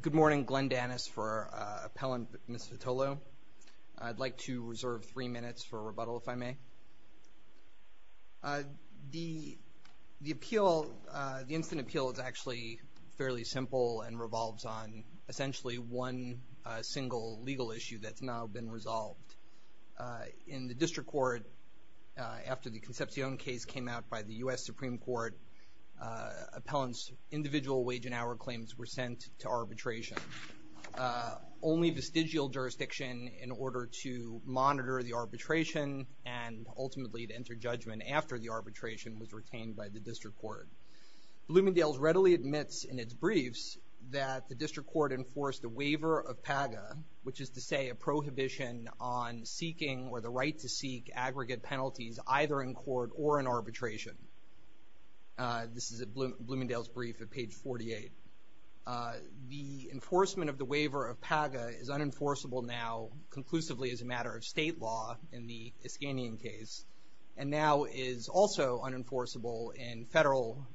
Good morning. Glenn Danis for Appellant Ms. Vitolo. I'd like to reserve three minutes for rebuttal, if I may. The appeal, the instant appeal, is actually fairly simple and revolves on essentially one single legal issue that's now been resolved. In the district court, after the Concepcion case came out by the U.S. Supreme Court, appellants' individual wage and hour claims were sent to arbitration. Only vestigial jurisdiction in order to monitor the arbitration and ultimately to enter judgment after the arbitration was retained by the district court. Bloomingdale's readily admits in its briefs that the district court enforced a waiver of PAGA, which is to say a prohibition on seeking or the right to seek aggregate penalties either in court or in arbitration. This is at Bloomingdale's brief at page 48. The enforcement of the waiver of PAGA is unenforceable now, conclusively as a matter of state law in the Iskandian case, and now is also unenforceable in federal,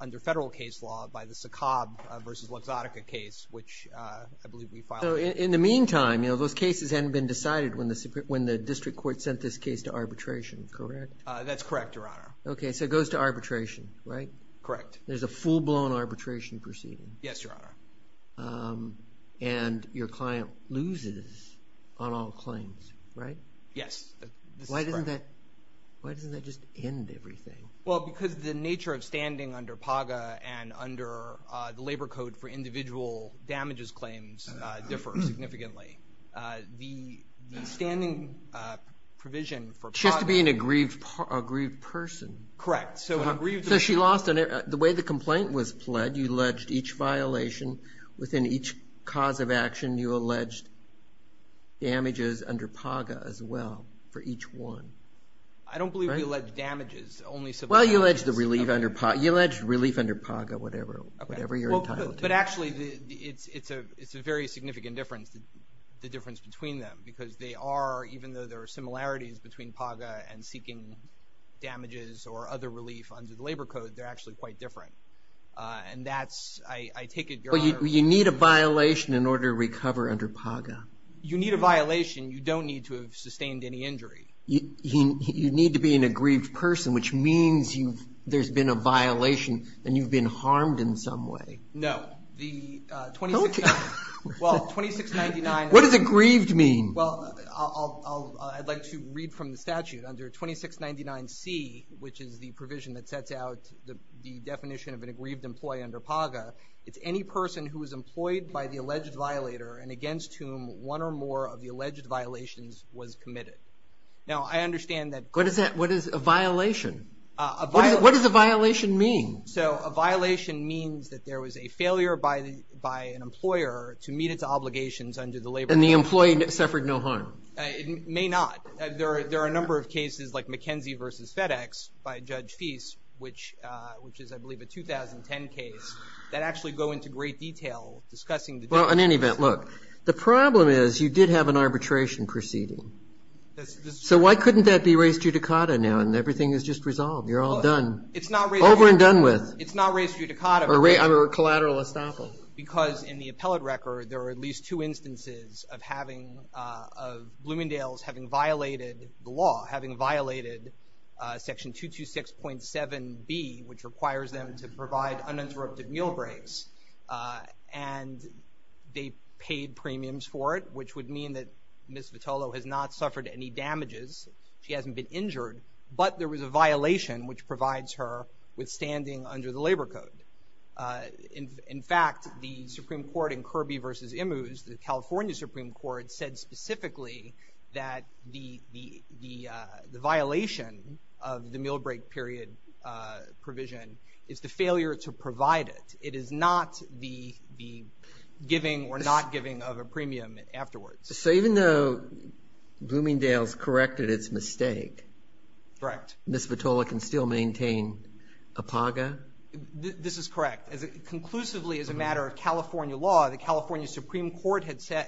under federal case law, by the Sokob versus Luxottica case, which I believe we filed. So in the meantime, those cases hadn't been decided when the district court sent this case to arbitration, correct? That's correct, Your Honor. Okay, so it goes to arbitration, right? Correct. There's a full-blown arbitration proceeding. Yes, Your Honor. And your client loses on all claims, right? Yes. Why doesn't that just end everything? Well, because the nature of standing under PAGA and under the Labor Code for Individual Damages Claims differs significantly. The standing provision for PAGA. Just to be an aggrieved person. Correct. So she lost on it. The way the complaint was pled, you alleged each violation within each cause of action, you alleged damages under PAGA as well for each one. I don't believe we alleged damages. Well, you alleged relief under PAGA, whatever you're entitled to. But actually, it's a very significant difference, the difference between them, because they are, even though there are similarities between PAGA and seeking damages or other relief under the Labor Code, they're actually quite different. And that's, I take it, Your Honor. Well, you need a violation in order to recover under PAGA. You need a violation. You don't need to have sustained any injury. You need to be an aggrieved person, which means there's been a violation and you've been harmed in some way. No. Well, 2699. What does aggrieved mean? Well, I'd like to read from the statute. Under 2699C, which is the provision that sets out the definition of an aggrieved employee under PAGA, it's any person who is employed by the alleged violator and against whom one or more of the alleged violations was committed. Now, I understand that. What is a violation? What does a violation mean? So a violation means that there was a failure by an employer to meet its obligations under the Labor Code. And the employee suffered no harm. It may not. There are a number of cases like McKenzie v. FedEx by Judge Feist, which is, I believe, a 2010 case that actually go into great detail discussing the differences. Well, in any event, look, the problem is you did have an arbitration proceeding. So why couldn't that be res judicata now and everything is just resolved? You're all done. It's not res judicata. Over and done with. It's not res judicata. Or collateral estoppel. Because in the appellate record, there are at least two instances of having, of Bloomingdale's having violated the law, having violated Section 226.7B, which requires them to provide uninterrupted meal breaks. And they paid premiums for it, which would mean that Ms. Vitolo has not suffered any damages. She hasn't been injured. But there was a violation, which provides her with standing under the Labor Code. In fact, the Supreme Court in Kirby v. Immues, the California Supreme Court, said specifically that the violation of the meal break period provision is the failure to provide it. It is not the giving or not giving of a premium afterwards. So even though Bloomingdale's corrected its mistake, Ms. Vitolo can still maintain APAGA? This is correct. Conclusively, as a matter of California law, the California Supreme Court has said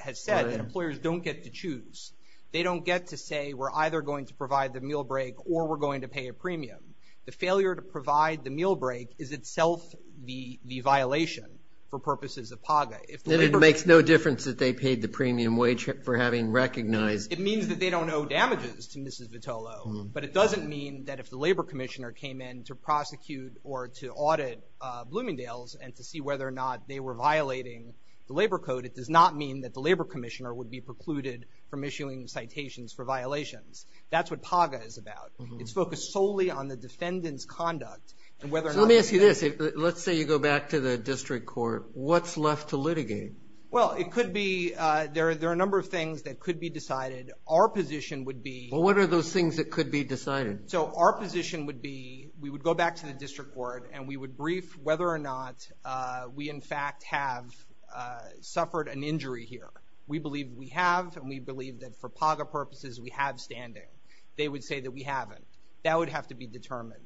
that employers don't get to choose. They don't get to say we're either going to provide the meal break or we're going to pay a premium. The failure to provide the meal break is itself the violation for purposes of APAGA. And it makes no difference that they paid the premium wage for having recognized. It means that they don't owe damages to Mrs. Vitolo. But it doesn't mean that if the Labor Commissioner came in to prosecute or to audit Bloomingdale's and to see whether or not they were violating the Labor Code, it does not mean that the Labor Commissioner would be precluded from issuing citations for violations. That's what APAGA is about. It's focused solely on the defendant's conduct. So let me ask you this. Let's say you go back to the district court. What's left to litigate? Well, it could be there are a number of things that could be decided. Our position would be. Well, what are those things that could be decided? So our position would be we would go back to the district court and we would brief whether or not we, in fact, have suffered an injury here. We believe we have, and we believe that for APAGA purposes we have standing. They would say that we haven't. That would have to be determined.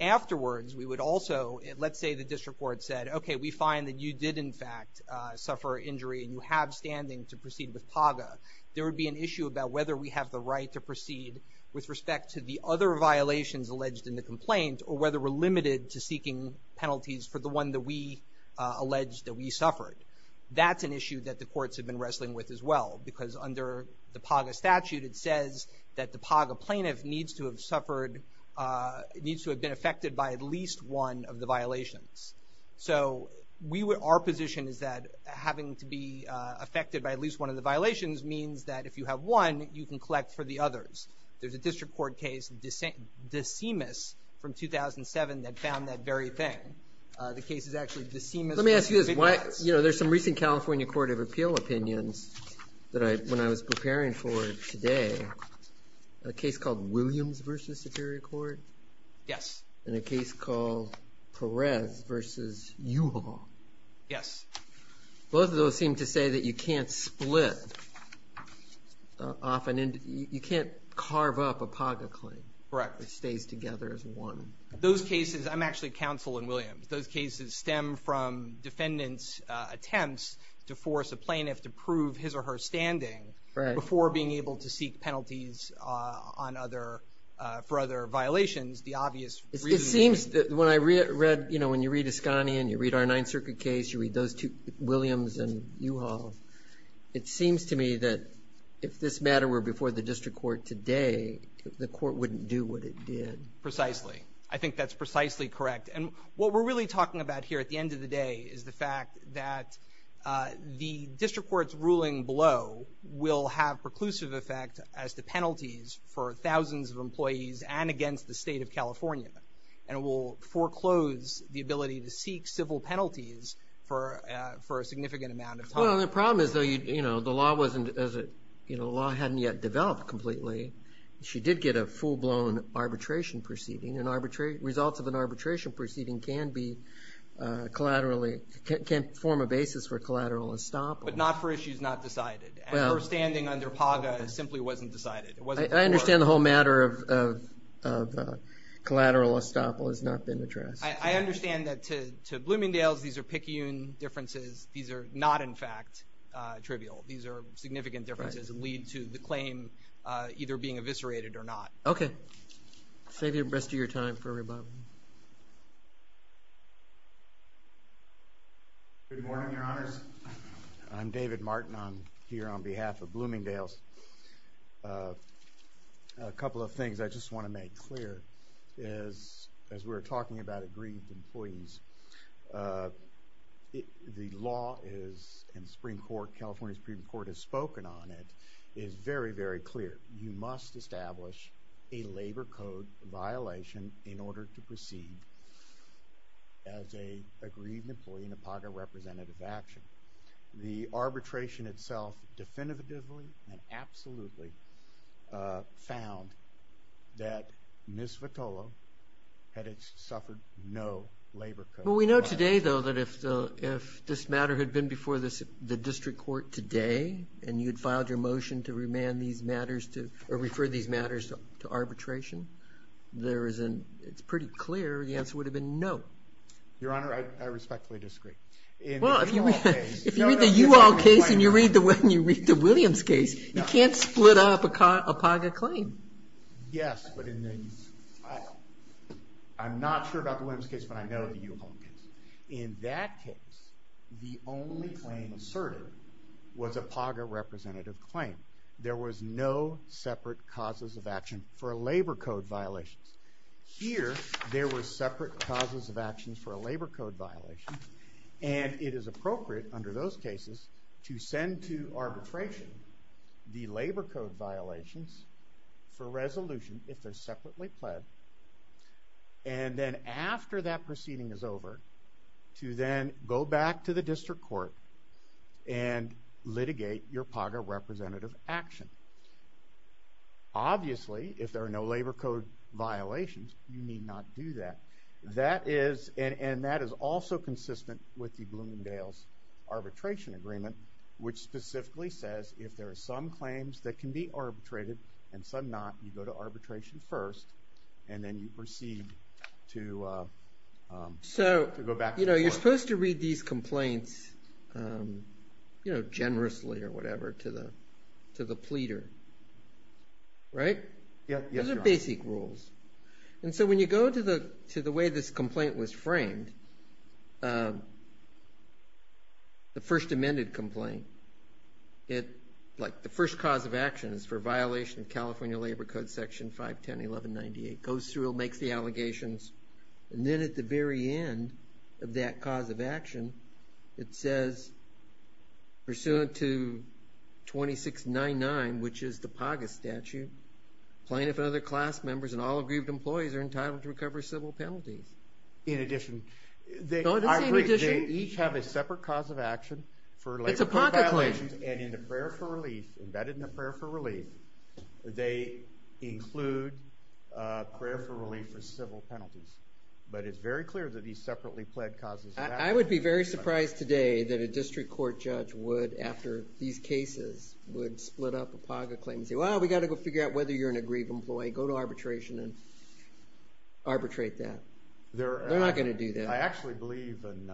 Afterwards, we would also, let's say the district court said, okay, we find that you did, in fact, suffer injury and you have standing to proceed with APAGA. There would be an issue about whether we have the right to proceed with respect to the other violations alleged in the complaint or whether we're limited to seeking penalties for the one that we allege that we suffered. That's an issue that the courts have been wrestling with as well, because under the APAGA statute it says that the APAGA plaintiff needs to have suffered, needs to have been affected by at least one of the violations. So our position is that having to be affected by at least one of the violations means that if you have one, you can collect for the others. There's a district court case, DeSemis, from 2007 that found that very thing. The case is actually DeSemis. Let me ask you this. You know, there's some recent California Court of Appeal opinions that I, when I was preparing for today, a case called Williams v. Superior Court. Yes. And a case called Perez v. Uhaul. Yes. Both of those seem to say that you can't split off an, you can't carve up APAGA claim. Correct. It stays together as one. Those cases, I'm actually counsel in Williams. Those cases stem from defendants' attempts to force a plaintiff to prove his or her standing before being able to seek penalties on other, for other violations. The obvious reason. It seems that when I read, you know, when you read Iskanyan, you read our Ninth Circuit case, you read those two, Williams and Uhaul, it seems to me that if this matter were before the district court today, the court wouldn't do what it did. Precisely. I think that's precisely correct. And what we're really talking about here at the end of the day is the fact that the district court's ruling below will have preclusive effect as the penalties for thousands of employees and against the state of California. And it will foreclose the ability to seek civil penalties for a significant amount of time. Well, the problem is, though, you know, the law wasn't, you know, the law hadn't yet developed completely. She did get a full-blown arbitration proceeding. And results of an arbitration proceeding can be collaterally, can form a basis for collateral estoppel. But not for issues not decided. Her standing under PAGA simply wasn't decided. I understand the whole matter of collateral estoppel has not been addressed. I understand that to Bloomingdale's, these are picayune differences. These are not, in fact, trivial. These are significant differences that lead to the claim either being eviscerated or not. Okay. Save the rest of your time for rebuttal. Good morning, Your Honors. I'm David Martin. I'm here on behalf of Bloomingdale's. A couple of things I just want to make clear. As we were talking about aggrieved employees, the law is in the Supreme Court, California Supreme Court has spoken on it, is very, very clear. You must establish a labor code violation in order to proceed as an aggrieved employee in a PAGA representative action. The arbitration itself definitively and absolutely found that Ms. Votolo had suffered no labor code violation. Well, we know today, though, that if this matter had been before the district court today and you had filed your motion to remand these matters or refer these matters to arbitration, it's pretty clear the answer would have been no. Your Honor, I respectfully disagree. Well, if you read the U-Haul case and you read the Williams case, you can't split up a PAGA claim. Yes, but I'm not sure about the Williams case, but I know the U-Haul case. In that case, the only claim asserted was a PAGA representative claim. There was no separate causes of action for a labor code violation. Here, there were separate causes of actions for a labor code violation, and it is appropriate under those cases to send to arbitration the labor code violations for resolution, if they're separately pled, and then after that proceeding is over, to then go back to the district court and litigate your PAGA representative action. Obviously, if there are no labor code violations, you need not do that, and that is also consistent with the Bloomingdale's arbitration agreement, which specifically says if there are some claims that can be arbitrated and some not, you go to arbitration first, and then you proceed to go back to the court. You're supposed to read these complaints generously or whatever to the pleader, right? Those are basic rules. And so when you go to the way this complaint was framed, the first amended complaint, like the first cause of action is for violation of California Labor Code Section 510.1198, it goes through and makes the allegations, and then at the very end of that cause of action, it says, pursuant to 2699, which is the PAGA statute, plaintiff and other class members and all aggrieved employees are entitled to recover civil penalties. In addition, they each have a separate cause of action for labor code violations, and in the prayer for relief, embedded in the prayer for relief, they include prayer for relief for civil penalties. But it's very clear that these separately pled causes of action. I would be very surprised today that a district court judge would, after these cases, would split up a PAGA claim and say, well, we've got to go figure out whether you're an aggrieved employee. Go to arbitration and arbitrate that. They're not going to do that. I actually believe in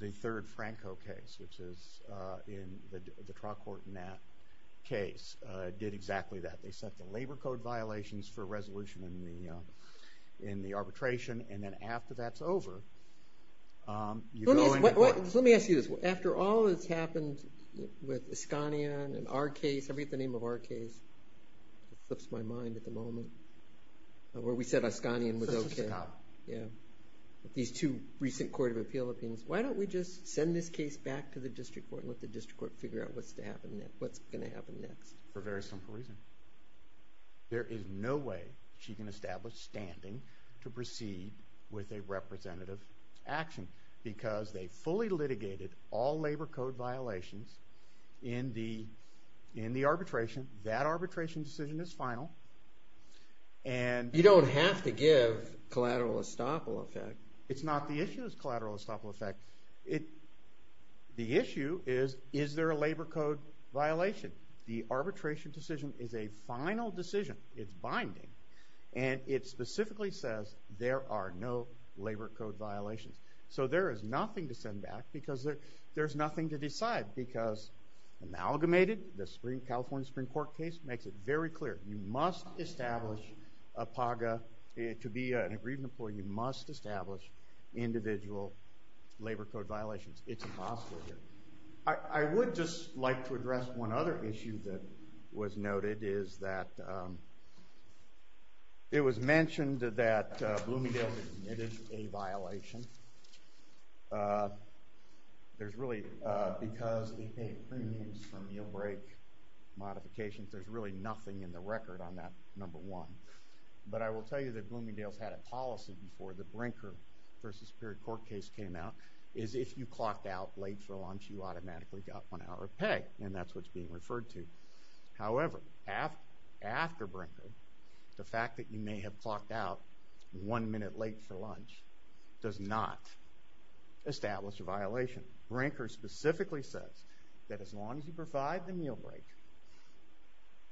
the third Franco case, which is in the trial court in that case, did exactly that. They set the labor code violations for resolution in the arbitration, and then after that's over, you go into court. Let me ask you this. After all that's happened with Escania and our case, I forget the name of our case. It flips my mind at the moment, where we said Escania was okay. These two recent court of appeal opinions, why don't we just send this case back to the district court and let the district court figure out what's going to happen next? For a very simple reason. There is no way she can establish standing to proceed with a representative action because they fully litigated all labor code violations in the arbitration. That arbitration decision is final. You don't have to give collateral estoppel effect. It's not the issue of collateral estoppel effect. The issue is, is there a labor code violation? The arbitration decision is a final decision. It's binding, and it specifically says there are no labor code violations. So there is nothing to send back because there's nothing to decide. Because amalgamated, the California Supreme Court case makes it very clear. You must establish a PAGA. To be an agreement, you must establish individual labor code violations. It's impossible here. I would just like to address one other issue that was noted, is that it was mentioned that Bloomingdale admitted a violation. There's really, because we paid premiums for meal break modifications, there's really nothing in the record on that number one. But I will tell you that Bloomingdale's had a policy before the Brinker v. Perry court case came out, is if you clocked out late for lunch, you automatically got one hour of pay, and that's what's being referred to. However, after Brinker, the fact that you may have clocked out one minute late for lunch does not establish a violation. Brinker specifically says that as long as you provide the meal break,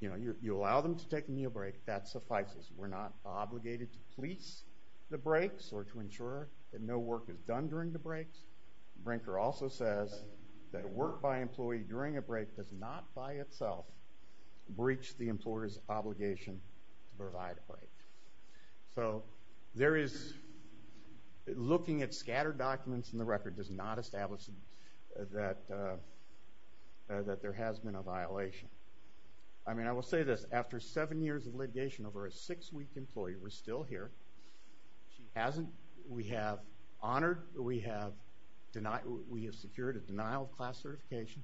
you allow them to take a meal break, that suffices. We're not obligated to police the breaks or to ensure that no work is done during the breaks. Brinker also says that work by employee during a break does not by itself breach the employer's obligation to provide a break. So there is, looking at scattered documents in the record, does not establish that there has been a violation. I mean, I will say this, after seven years of litigation, over a six-week employee was still here. She hasn't, we have honored, we have secured a denial of class certification.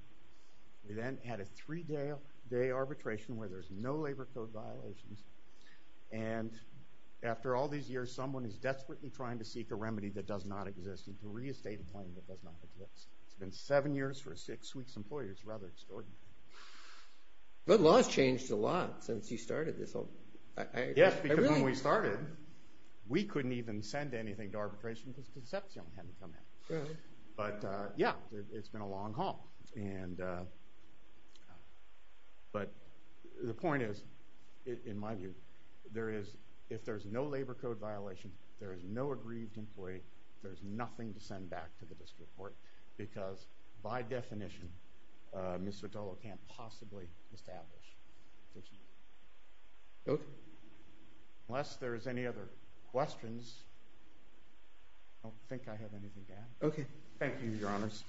We then had a three-day arbitration where there's no labor code violations. And after all these years, someone is desperately trying to seek a remedy that does not exist and to reestate a claim that does not exist. It's been seven years for a six-week employee. It's rather extraordinary. But laws changed a lot since you started this. Yes, because when we started, we couldn't even send anything to arbitration because Concepcion had to come in. But, yeah, it's been a long haul. And, but the point is, in my view, there is, if there's no labor code violation, there is no aggrieved employee, there's nothing to send back to the district court because, by definition, Ms. Sotolo can't possibly establish. Thank you. Okay. Unless there's any other questions, I don't think I have anything to add. Okay. Thank you, Your Honors.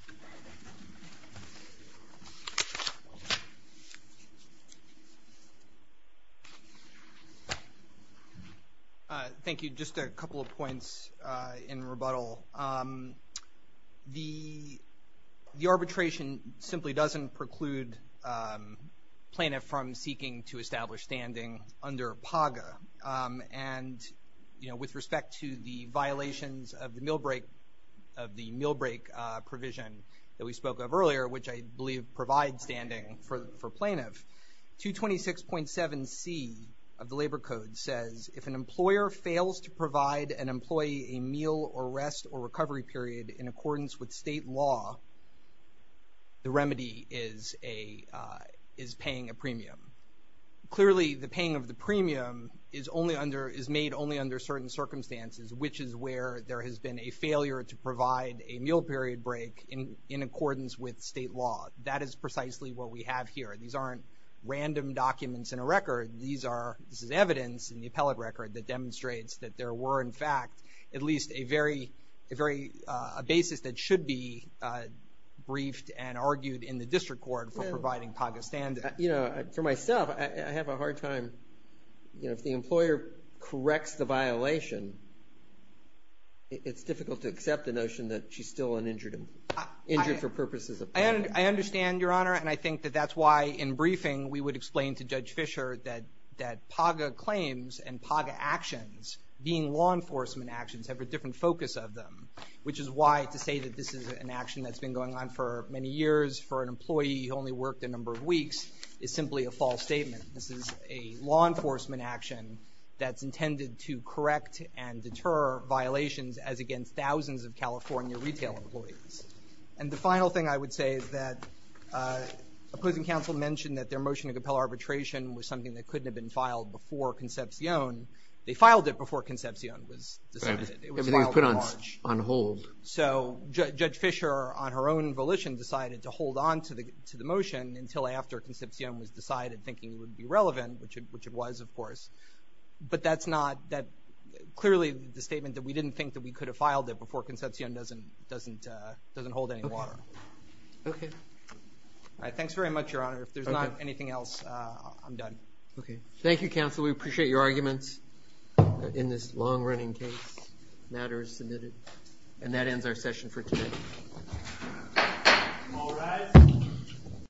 Thank you. Just a couple of points in rebuttal. The arbitration simply doesn't preclude plaintiff from seeking to establish standing under PAGA. And, you know, with respect to the violations of the meal break provision that we spoke of earlier, which I believe provides standing for plaintiff, 226.7c of the labor code says, if an employer fails to provide an employee a meal or rest or recovery period in accordance with state law, the remedy is paying a premium. Clearly, the paying of the premium is only under, is made only under certain circumstances, which is where there has been a failure to provide a meal period break in accordance with state law. That is precisely what we have here. These aren't random documents in a record. These are, this is evidence in the appellate record that demonstrates that there were, in fact, at least a very, a very, a basis that should be briefed and argued in the district court for providing PAGA standing. You know, for myself, I have a hard time, you know, if the employer corrects the violation, it's difficult to accept the notion that she's still an injured for purposes of payment. I understand, Your Honor, and I think that that's why in briefing we would explain to Judge Fischer that PAGA claims and PAGA actions being law enforcement actions have a different focus of them, which is why to say that this is an action that's been going on for many years for an employee who only worked a number of weeks is simply a false statement. This is a law enforcement action that's intended to correct and deter violations as against thousands of California retail employees. And the final thing I would say is that opposing counsel mentioned that their motion to compel arbitration was something that couldn't have been filed before Concepcion. They filed it before Concepcion was decided. Everything was put on hold. So Judge Fischer, on her own volition, decided to hold on to the motion until after Concepcion was decided, thinking it would be relevant, which it was, of course. But that's not that clearly the statement that we didn't think that we could have filed it before Concepcion doesn't hold any water. Okay. All right. Thanks very much, Your Honor. If there's not anything else, I'm done. Okay. Thank you, counsel. We appreciate your arguments in this long-running case. Matter is submitted. And that ends our session for today. All rise.